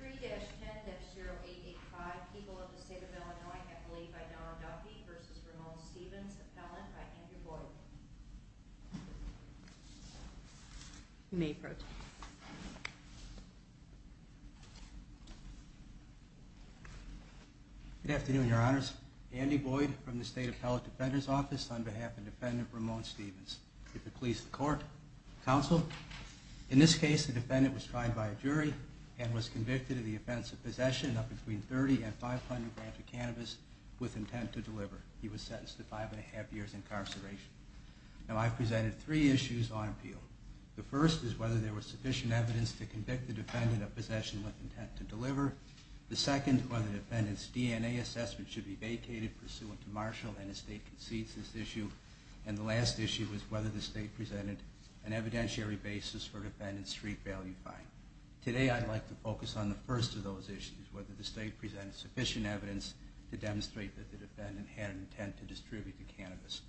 3-10-0885 People of the State of Illinois, a plea by Donald Duffy v. Ramon Stephens, appellant by Andy Boyd. You may proceed. Good afternoon, Your Honors. Andy Boyd from the State Appellate Defender's Office on behalf of Defendant Ramon Stephens. If it pleases the court, counsel, in this case the defendant was tried by a jury and was convicted of the offense of possession of between 30 and 500 grams of cannabis with intent to deliver. He was sentenced to five and a half years incarceration. Now I've presented three issues on appeal. The first is whether there was sufficient evidence to convict the defendant of possession with intent to deliver. The second, whether the defendant's DNA assessment should be vacated pursuant to Marshall and his state concedes this issue. And the last issue is whether the state presented an evidentiary basis for defendant's street value fine. Today I'd like to focus on the first of those issues, whether the state presented sufficient evidence to demonstrate that the defendant had an intent to distribute the cannabis.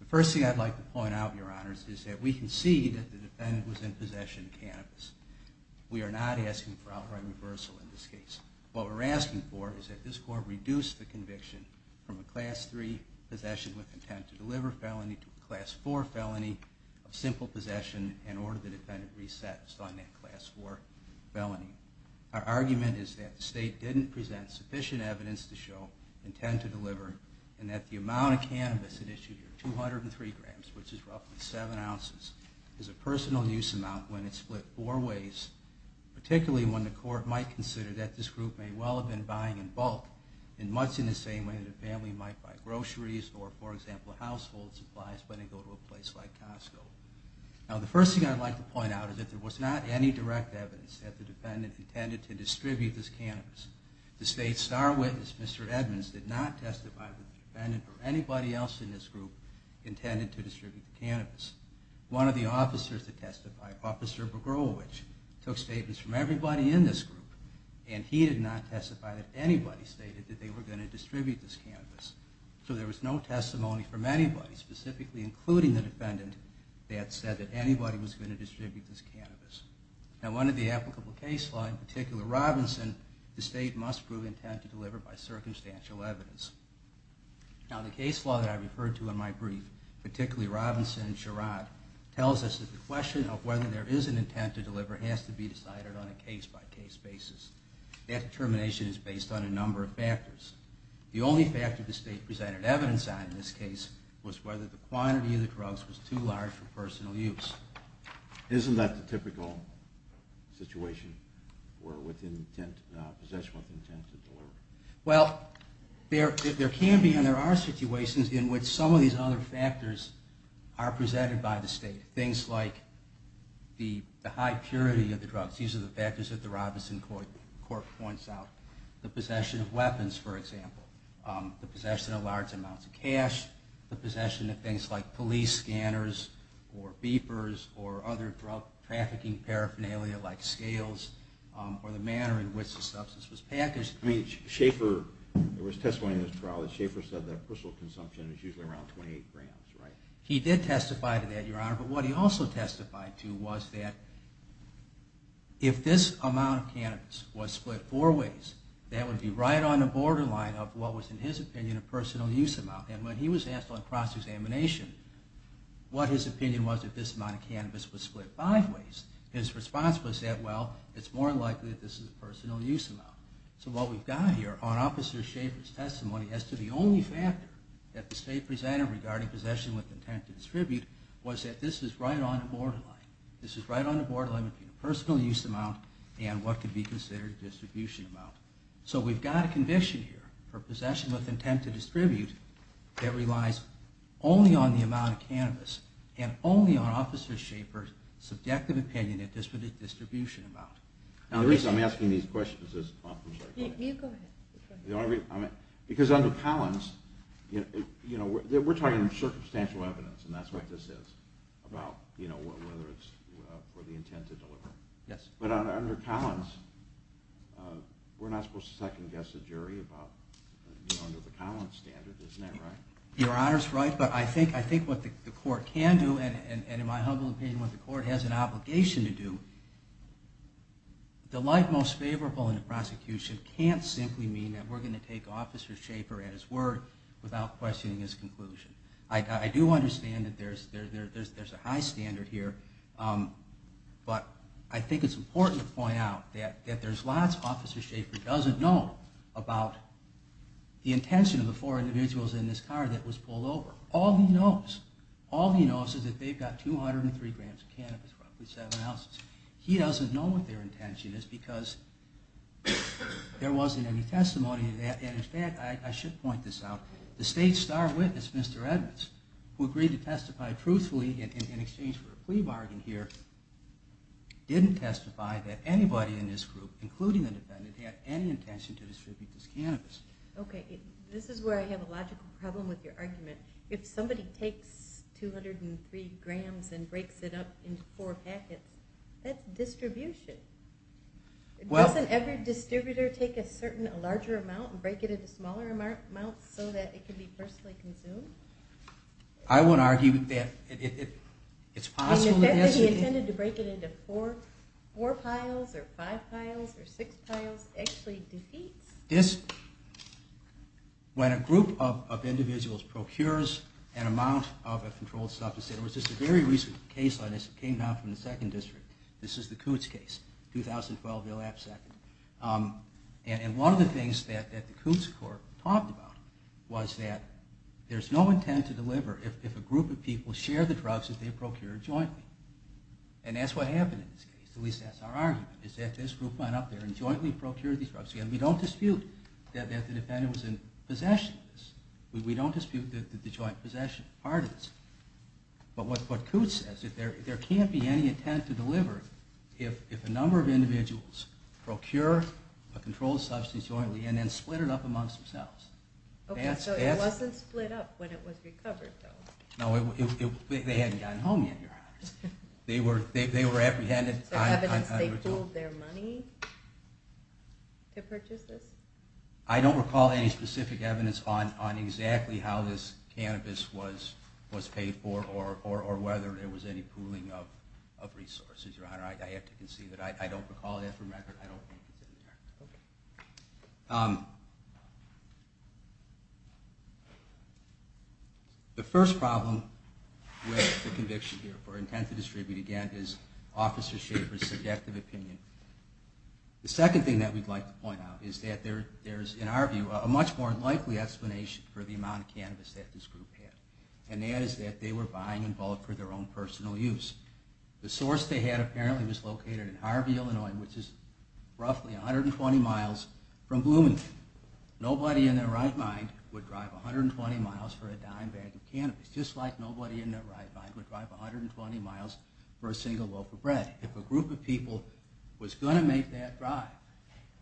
The first thing I'd like to point out, Your Honors, is that we concede that the defendant was in possession of cannabis. We are not asking for outright reversal in this case. What we're asking for is that this court reduce the conviction from a Class III possession with intent to deliver felony to a Class IV felony of simple possession and order the defendant resets on that Class IV felony. Our argument is that the state didn't present sufficient evidence to show intent to deliver and that the amount of cannabis it issued, 203 grams, which is roughly seven ounces, is a personal use amount when it's split four ways. Particularly when the court might consider that this group may well have been buying in bulk in much the same way that a family might buy groceries or, for example, household supplies when they go to a place like Costco. Now the first thing I'd like to point out is that there was not any direct evidence that the defendant intended to distribute this cannabis. The state's star witness, Mr. Edmonds, did not testify that the defendant or anybody else in this group intended to distribute the cannabis. One of the officers that testified, Officer Bogorowicz, took statements from everybody in this group and he did not testify that anybody stated that they were going to distribute this cannabis. So there was no testimony from anybody, specifically including the defendant, that said that anybody was going to distribute this cannabis. Now under the applicable case law, in particular Robinson, the state must prove intent to deliver by circumstantial evidence. Now the case law that I referred to in my brief, particularly Robinson and Sherrod, tells us that the question of whether there is an intent to deliver has to be decided on a case-by-case basis. That determination is based on a number of factors. The only factor the state presented evidence on in this case was whether the quantity of the drugs was too large for personal use. Isn't that the typical situation where possession with intent to deliver? Well, there can be and there are situations in which some of these other factors are presented by the state. Things like the high purity of the drugs. These are the factors that the Robinson court points out. The possession of weapons, for example. The possession of large amounts of cash. The possession of things like police scanners or beepers or other drug trafficking paraphernalia like scales or the manner in which the substance was packaged. I mean, Schaefer, there was testimony in this trial that Schaefer said that personal consumption is usually around 28 grams, right? He did testify to that, Your Honor. But what he also testified to was that if this amount of cannabis was split four ways, that would be right on the borderline of what was, in his opinion, a personal use amount. And when he was asked on cross-examination what his opinion was if this amount of cannabis was split five ways, his response was that, well, it's more likely that this is a personal use amount. So what we've got here on Officer Schaefer's testimony as to the only factor that the state presented regarding possession with intent to distribute was that this is right on the borderline. This is right on the borderline between a personal use amount and what could be considered a distribution amount. So we've got a conviction here for possession with intent to distribute that relies only on the amount of cannabis and only on Officer Schaefer's subjective opinion of distribution amount. Now the reason I'm asking these questions is because under Collins, we're talking circumstantial evidence, and that's what this is, about whether it's for the intent to deliver. But under Collins, we're not supposed to second-guess the jury under the Collins standard, isn't that right? Your Honor's right, but I think what the court can do, and in my humble opinion, what the court has an obligation to do, the light most favorable in a prosecution can't simply mean that we're going to take Officer Schaefer at his word without questioning his conclusion. I do understand that there's a high standard here, but I think it's important to point out that there's lots Officer Schaefer doesn't know about the intention of the four individuals in this car that was pulled over. All he knows is that they've got 203 grams of cannabis, roughly seven ounces. He doesn't know what their intention is because there wasn't any testimony to that. And in fact, I should point this out, the state's star witness, Mr. Edmonds, who agreed to testify truthfully in exchange for a plea bargain here, didn't testify that anybody in this group, including the defendant, had any intention to distribute this cannabis. Okay, this is where I have a logical problem with your argument. If somebody takes 203 grams and breaks it up into four packets, that's distribution. Doesn't every distributor take a larger amount and break it into smaller amounts so that it can be personally consumed? I would argue that it's possible that this... And the fact that he intended to break it into four piles or five piles or six piles actually defeats... When a group of individuals procures an amount of a controlled substance, there was just a very recent case on this that came down from the second district. This is the Coots case, 2012, they'll have a second. And one of the things that the Coots court talked about was that there's no intent to deliver if a group of people share the drugs that they procure jointly. And that's what happened in this case, at least that's our argument, is that this group went up there and jointly procured these drugs together. We don't dispute that the defendant was in possession of this. We don't dispute that the joint possession part is. But what Coots says is that there can't be any intent to deliver if a number of individuals procure a controlled substance jointly and then split it up amongst themselves. Okay, so it wasn't split up when it was recovered, though. No, they hadn't gotten home yet, Your Honor. They were apprehended... Is there evidence they pooled their money to purchase this? I don't recall any specific evidence on exactly how this cannabis was paid for or whether there was any pooling of resources, Your Honor. I have to concede that I don't recall that for a record. I don't think it's in there. The first problem with the conviction here for intent to distribute, again, is Officer Schaffer's subjective opinion. The second thing that we'd like to point out is that there's, in our view, a much more likely explanation for the amount of cannabis that this group had. And that is that they were buying in bulk for their own personal use. The source they had apparently was located in Harvey, Illinois, which is roughly 120 miles from Bloomington. Nobody in their right mind would drive 120 miles for a dime bag of cannabis, just like nobody in their right mind would drive 120 miles for a single loaf of bread. If a group of people was going to make that drive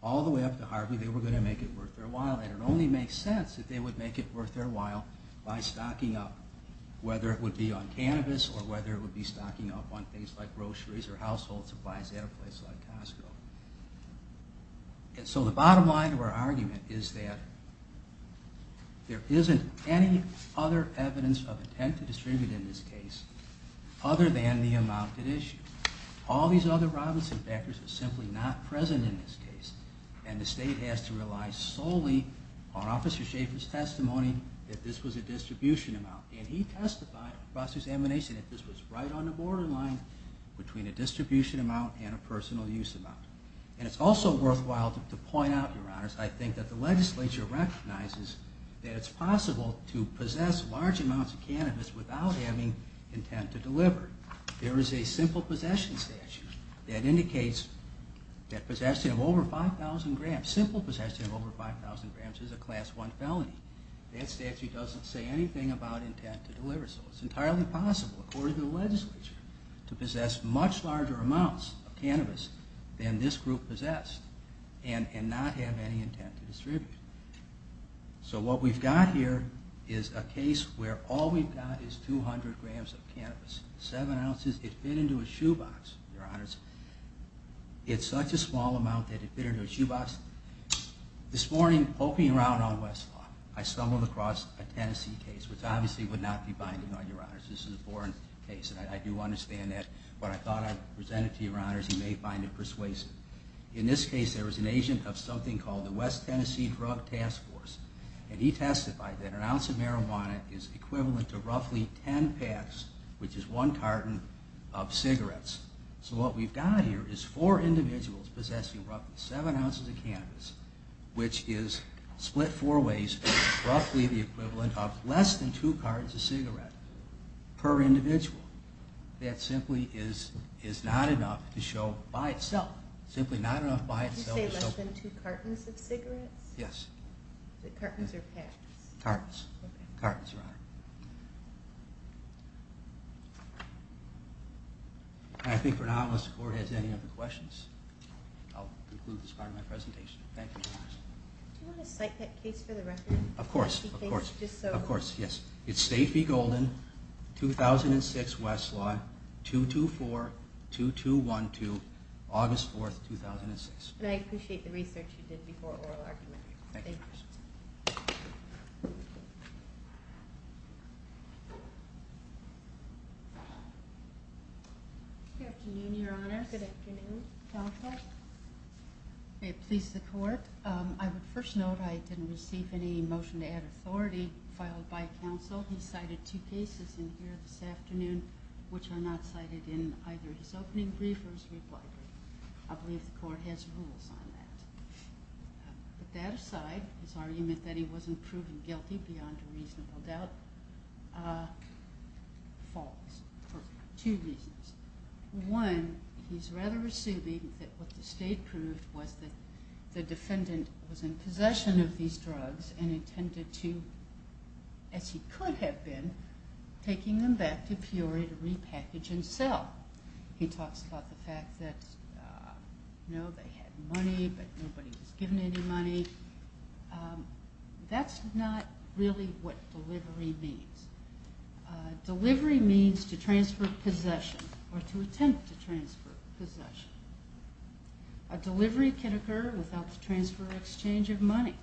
all the way up to Harvey, they were going to make it worth their while. It only makes sense that they would make it worth their while by stocking up, whether it would be on cannabis or whether it would be stocking up on things like groceries or household supplies at a place like Costco. And so the bottom line of our argument is that there isn't any other evidence of intent to distribute in this case other than the amount at issue. All these other Robinson factors are simply not present in this case. And the state has to rely solely on Officer Schaffer's testimony that this was a distribution amount. And he testified across his admonition that this was right on the borderline between a distribution amount and a personal use amount. And it's also worthwhile to point out, Your Honors, I think that the legislature recognizes that it's possible to possess large amounts of cannabis without having intent to deliver. There is a simple possession statute that indicates that possession of over 5,000 grams, simple possession of over 5,000 grams is a Class I felony. That statute doesn't say anything about intent to deliver. So it's entirely possible, according to the legislature, to possess much larger amounts of cannabis than this group possessed and not have any intent to distribute. So what we've got here is a case where all we've got is 200 grams of cannabis, seven ounces. It fit into a shoebox, Your Honors. It's such a small amount that it fit into a shoebox. This morning, poking around on Westlaw, I stumbled across a Tennessee case, which obviously would not be binding on Your Honors. This is a foreign case, and I do understand that. But I thought I'd present it to Your Honors. You may find it persuasive. In this case, there was an agent of something called the West Tennessee Drug Task Force, and he testified that an ounce of marijuana is equivalent to roughly 10 packs, which is one carton, of cigarettes. So what we've got here is four individuals possessing roughly seven ounces of cannabis, which is split four ways, roughly the equivalent of less than two cartons of cigarette per individual. That simply is not enough to show by itself. Simply not enough by itself to show. Did you say less than two cartons of cigarettes? Yes. Is it cartons or packs? Cartons. Okay. Cartons, Your Honor. I think for now, unless the Court has any other questions, I'll conclude this part of my presentation. Thank you, Your Honors. Do you want to cite that case for the record? Of course, of course. Just so... Of course, yes. It's State v. Golden, 2006, Westlaw, 224-2212, August 4th, 2006. And I appreciate the research you did before oral argument. Thank you. Good afternoon, Your Honor. Good afternoon, counsel. May it please the Court. I would first note I didn't receive any motion to add authority filed by counsel. He cited two cases in here this afternoon, which are not cited in either his opening brief or his reply brief. I believe the Court has rules on that. But that aside, his argument that he wasn't proven guilty beyond a reasonable doubt falls for two reasons. One, he's rather assuming that what the State proved was that the defendant was in possession of these drugs and intended to, as he could have been, taking them back to Peoria to repackage and sell. He talks about the fact that, you know, they had money, but nobody was given any money. That's not really what delivery means. Delivery means to transfer possession or to attempt to transfer possession. A delivery can occur without the transfer or exchange of money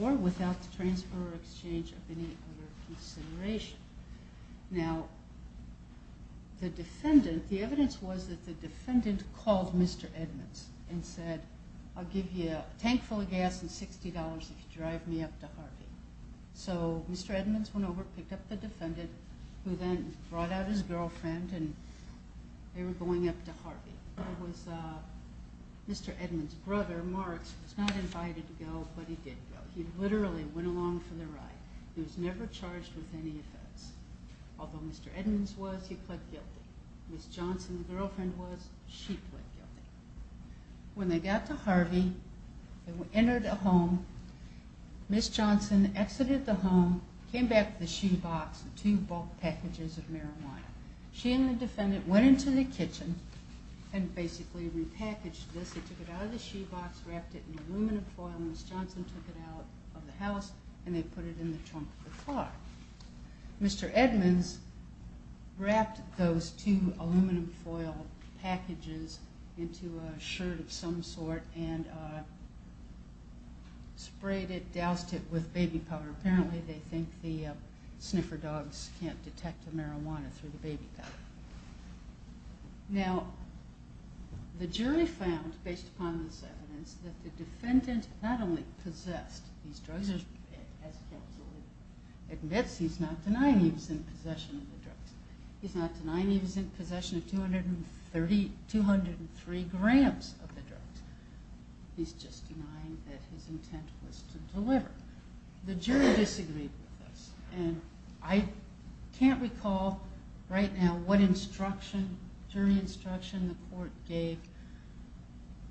or without the transfer or exchange of any other consideration. Now, the defendant, the evidence was that the defendant called Mr. Edmonds and said, I'll give you a tank full of gas and $60 if you drive me up to Harvey. So Mr. Edmonds went over, picked up the defendant, who then brought out his girlfriend, and they were going up to Harvey. It was Mr. Edmonds' brother, Marks, who was not invited to go, but he did go. He literally went along for the ride. He was never charged with any offense. Although Mr. Edmonds was, he pled guilty. Ms. Johnson, the girlfriend was, she pled guilty. When they got to Harvey, they entered a home. Ms. Johnson exited the home, came back to the shoebox with two bulk packages of marijuana. She and the defendant went into the kitchen and basically repackaged this. They took it out of the shoebox, wrapped it in aluminum foil, and Ms. Johnson took it out of the house, Mr. Edmonds wrapped those two aluminum foil packages into a shirt of some sort and sprayed it, doused it with baby powder. Apparently, they think the sniffer dogs can't detect the marijuana through the baby powder. Now, the jury found, based upon this evidence, that the defendant not only possessed these drugs, which, as counsel admits, he's not denying he was in possession of the drugs. He's not denying he was in possession of 203 grams of the drugs. He's just denying that his intent was to deliver. The jury disagreed with this, and I can't recall right now what instruction, jury instruction, the court gave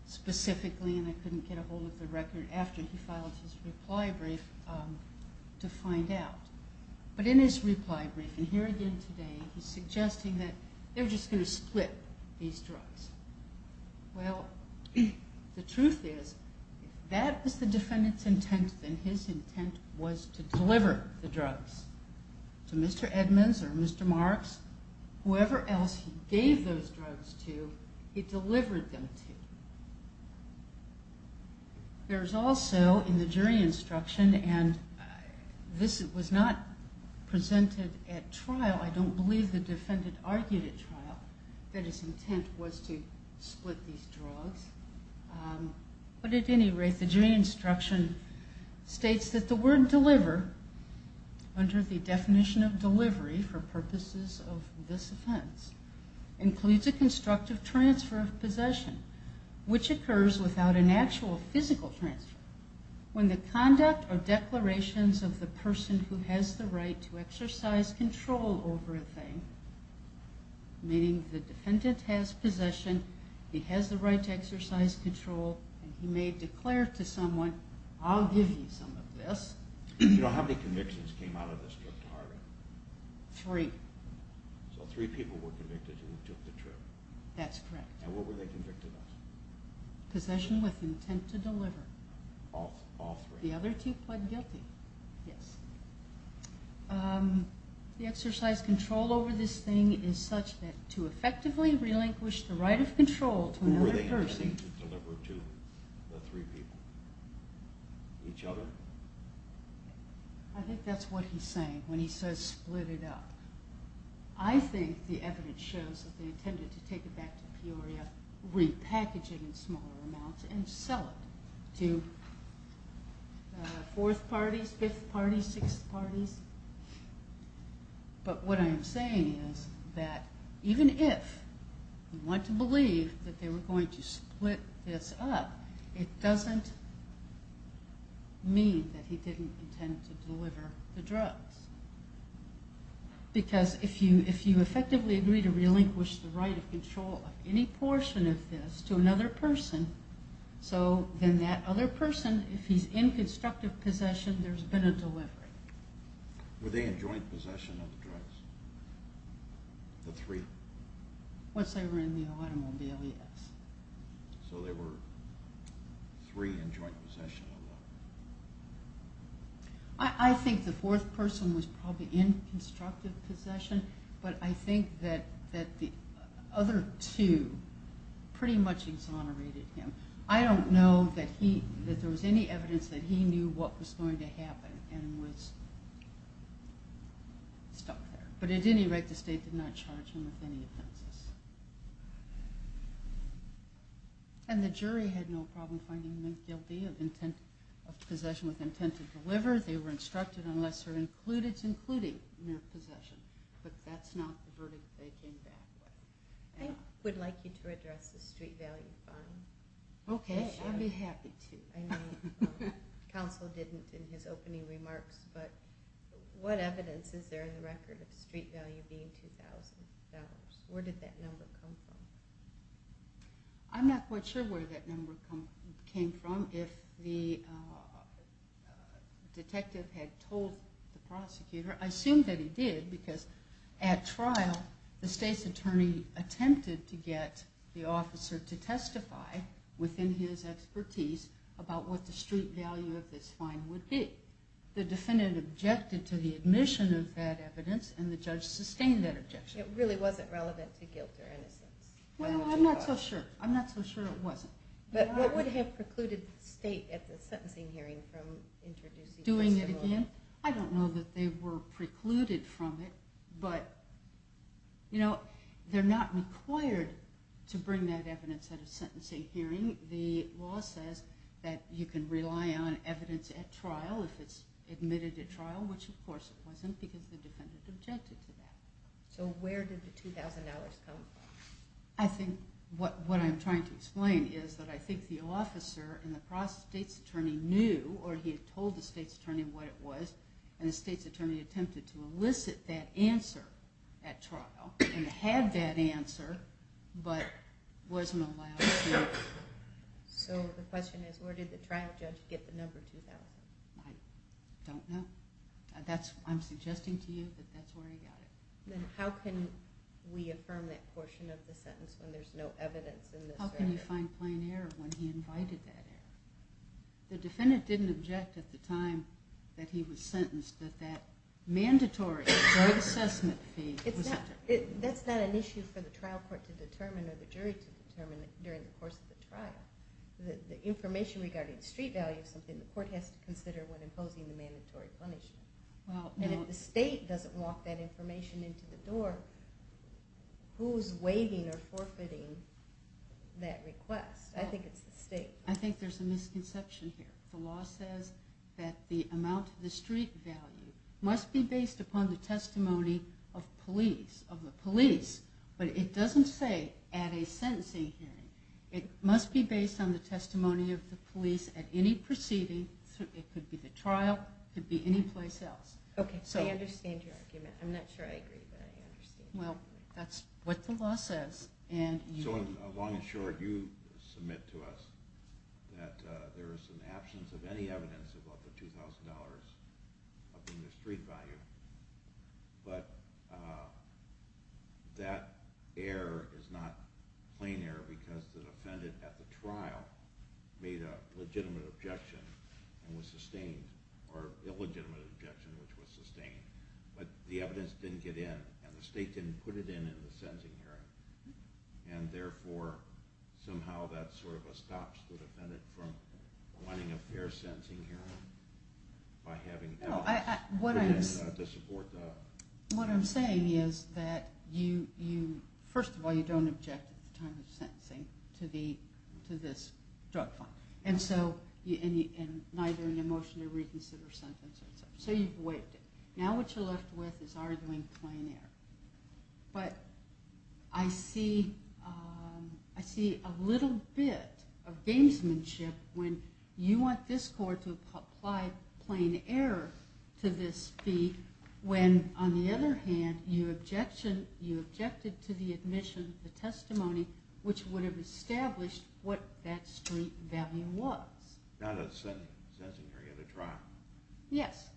specifically, and I couldn't get a hold of the record after he filed his reply brief to find out. But in his reply brief, and here again today, he's suggesting that they were just going to split these drugs. Well, the truth is, if that was the defendant's intent, then his intent was to deliver the drugs. So Mr. Edmonds or Mr. Marks, whoever else he gave those drugs to, he delivered them to. There's also, in the jury instruction, and this was not presented at trial. I don't believe the defendant argued at trial that his intent was to split these drugs. But at any rate, the jury instruction states that the word deliver, under the definition of delivery for purposes of this offense, includes a constructive transfer of possession, which occurs without an actual physical transfer. When the conduct or declarations of the person who has the right to exercise control over a thing, meaning the defendant has possession, he has the right to exercise control, and he may declare to someone, I'll give you some of this. You know, how many convictions came out of this trip to Harvard? Three. So three people were convicted and took the trip. That's correct. And what were they convicted of? Possession with intent to deliver. All three? The other two pled guilty, yes. The exercise control over this thing is such that to effectively relinquish the right of control to another person. Who were they intending to deliver to? The three people? Each other? I think that's what he's saying when he says split it up. I think the evidence shows that they intended to take it back to Peoria, repackage it in smaller amounts, and sell it to fourth parties, fifth parties, sixth parties. But what I'm saying is that even if you want to believe that they were going to split this up, it doesn't mean that he didn't intend to deliver the drugs. Because if you effectively agree to relinquish the right of control of any portion of this to another person, so then that other person, if he's in constructive possession, there's been a delivery. Were they in joint possession of the drugs? The three? Once they were in the automobile, yes. So they were three in joint possession of them. I think the fourth person was probably in constructive possession, but I think that the other two pretty much exonerated him. I don't know that there was any evidence that he knew what was going to happen and was stuck there. But at any rate, the state did not charge him with any offenses. And the jury had no problem finding him guilty of possession with intent to deliver. They were instructed, unless they're included, to include him in their possession. But that's not the verdict they came back with. I would like you to address the street value fine issue. Okay, I'd be happy to. I know counsel didn't in his opening remarks, but what evidence is there in the record of street value being $2,000? Where did that number come from? I'm not quite sure where that number came from. If the detective had told the prosecutor, I assume that he did, because at trial the state's attorney attempted to get the officer to testify within his expertise about what the street value of this fine would be. The defendant objected to the admission of that evidence, and the judge sustained that objection. It really wasn't relevant to guilt or innocence? Well, I'm not so sure. I'm not so sure it wasn't. But what would have precluded the state at the sentencing hearing from introducing this? Doing it again? I don't know that they were precluded from it, but they're not required to bring that evidence at a sentencing hearing. The law says that you can rely on evidence at trial if it's admitted at trial, which of course it wasn't, because the defendant objected to that. So where did the $2,000 come from? I think what I'm trying to explain is that I think the officer and the state's attorney knew, or he had told the state's attorney what it was, and the state's attorney attempted to elicit that answer at trial, and had that answer, but wasn't allowed to. So the question is, where did the trial judge get the number $2,000? I don't know. I'm suggesting to you that that's where he got it. Then how can we affirm that portion of the sentence when there's no evidence in this record? How can you find plain error when he invited that error? The defendant didn't object at the time that he was sentenced that that mandatory drug assessment fee... That's not an issue for the trial court to determine or the jury to determine during the course of the trial. The information regarding the street value is something the court has to consider when imposing the mandatory punishment. If the state doesn't walk that information into the door, who's waiving or forfeiting that request? I think it's the state. I think there's a misconception here. The law says that the amount of the street value must be based upon the testimony of the police, but it doesn't say at a sentencing hearing. It must be based on the testimony of the police at any proceeding. It could be the trial. It could be any place else. Okay. I understand your argument. I'm not sure I agree, but I understand. Well, that's what the law says. So, in the long and short, you submit to us that there is an absence of any evidence about the $2,000 up in the street value, but that error is not plain error because the defendant at the trial made a legitimate objection and was sustained, or illegitimate objection, which was sustained. But the evidence didn't get in, and the state didn't put it in in the sentencing hearing, and therefore somehow that sort of stops the defendant from wanting a fair sentencing hearing by having evidence. No, what I'm saying is that, first of all, you don't object at the time of sentencing to this drug fine, and neither in your motion to reconsider a sentence. So you've waived it. Now what you're left with is arguing plain error. But I see a little bit of gamesmanship when you want this court to apply plain error to this fee, when, on the other hand, you objected to the admission, the testimony, which would have established what that street value was. Not a sentencing hearing at a trial. Yes.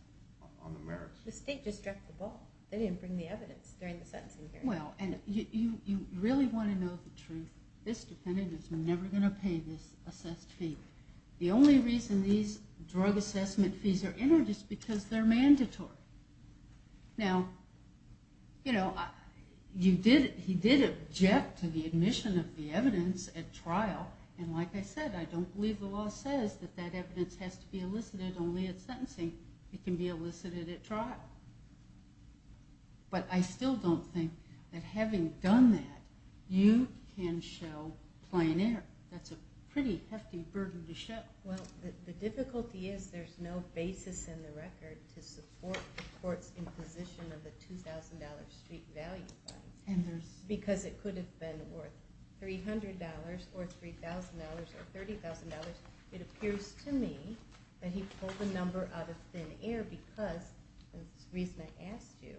On the merits. The state just dropped the ball. They didn't bring the evidence during the sentencing hearing. Well, and you really want to know the truth. This defendant is never going to pay this assessed fee. The only reason these drug assessment fees are introduced is because they're mandatory. Now, you know, he did object to the admission of the evidence at trial, and like I said, I don't believe the law says that that evidence has to be elicited only at sentencing. It can be elicited at trial. But I still don't think that having done that, you can show plain error. That's a pretty hefty burden to show. Well, the difficulty is there's no basis in the record to support the court's imposition of the $2,000 street value fine. And there's... Because it could have been worth $300 or $3,000 or $30,000. It appears to me that he pulled the number out of thin air because, the reason I asked you,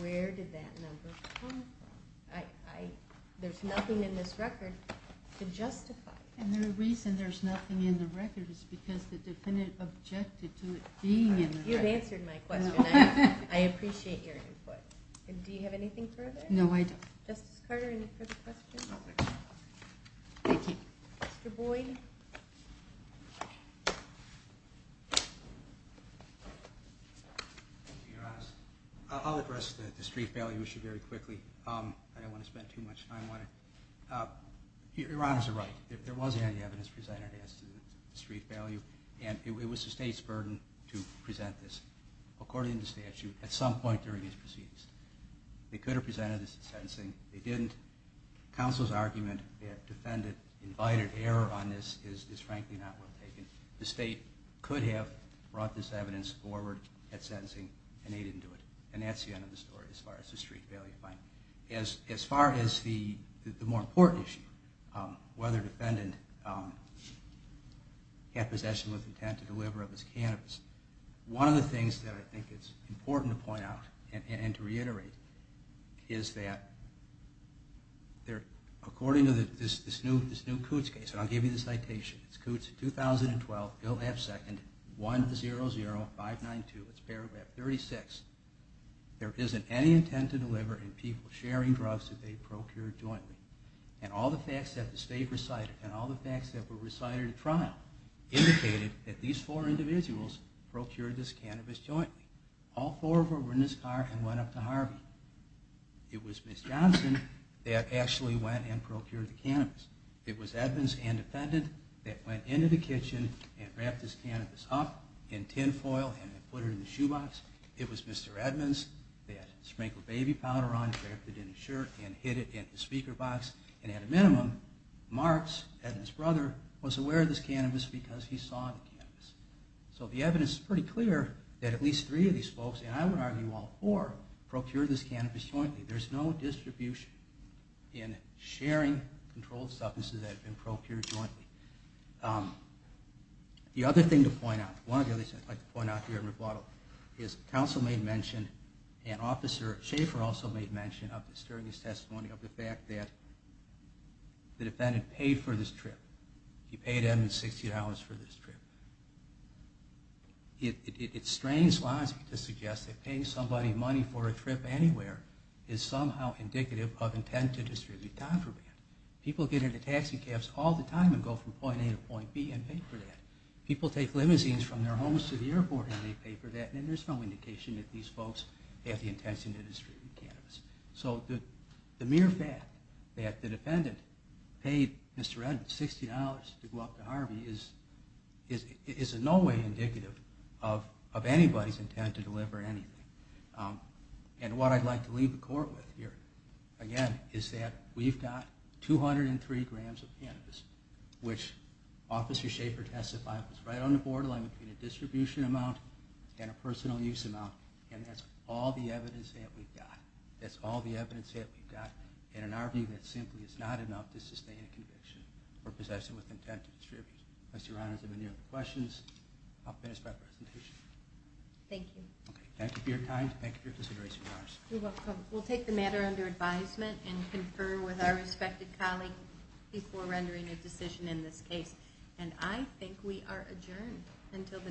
where did that number come from? There's nothing in this record to justify it. And the reason there's nothing in the record is because the defendant objected to it being in the record. You've answered my question. I appreciate your input. Do you have anything further? No, I don't. Justice Carter, any further questions? Thank you. Mr. Boyd? Thank you, Your Honor. I'll address the street value issue very quickly. I don't want to spend too much time on it. Your Honors are right. There was any evidence presented as to the street value, and it was the State's burden to present this. According to statute, at some point during these proceedings, they could have presented this at sentencing. They didn't. Counsel's argument that defendant invited error on this is frankly not well taken. The State could have brought this evidence forward at sentencing, and they didn't do it. And that's the end of the story as far as the street value claim. As far as the more important issue, whether defendant had possession with intent to deliver of his cannabis, one of the things that I think it's important to point out and to reiterate is that according to this new Coots case, and I'll give you the citation. It's Coots, 2012, Bill F. Second, 100592. It's paragraph 36. There isn't any intent to deliver in people sharing drugs that they procured jointly. And all the facts that the State recited, and all the facts that were recited at trial, indicated that these four individuals procured this cannabis jointly. All four of them were in this car and went up to Harvey. It was Ms. Johnson that actually went and procured the cannabis. It was Edmonds and defendant that went into the kitchen and wrapped this cannabis up in tinfoil and put it in the shoebox. It was Mr. Edmonds that sprinkled baby powder on it, wrapped it in his shirt, and hid it in the speaker box. And at a minimum, Marks and his brother was aware of this cannabis because he saw the cannabis. So the evidence is pretty clear that at least three of these folks, and I would argue all four, procured this cannabis jointly. There's no distribution in sharing controlled substances that have been procured jointly. The other thing to point out, one of the other things I'd like to point out here in rebuttal, is counsel made mention, and Officer Schaefer also made mention of this during his testimony, of the fact that the defendant paid for this trip. He paid Edmonds $60 for this trip. It strains Lonsby to suggest that paying somebody money for a trip anywhere is somehow indicative of intent to distribute time for that. People get into taxi cabs all the time and go from point A to point B and pay for that. People take limousines from their homes to the airport and they pay for that. And there's no indication that these folks have the intent to distribute cannabis. So the mere fact that the defendant paid Mr. Edmonds $60 to go up to Harvey is in no way indicative of anybody's intent to deliver anything. And what I'd like to leave the court with here, again, is that we've got 203 grams of cannabis, which Officer Schaefer testified was right on the borderline between a distribution amount and a personal use amount. And that's all the evidence that we've got. That's all the evidence that we've got. And in our view, that simply is not enough to sustain a conviction for possession with intent to distribute. Unless Your Honor has any other questions, I'll finish my presentation. Thank you. Okay, thank you for your time. Thank you for your consideration, Your Honor. You're welcome. We'll take the matter under advisement and confer with our respected colleague before rendering a decision in this case. And I think we are adjourned until the next hearing.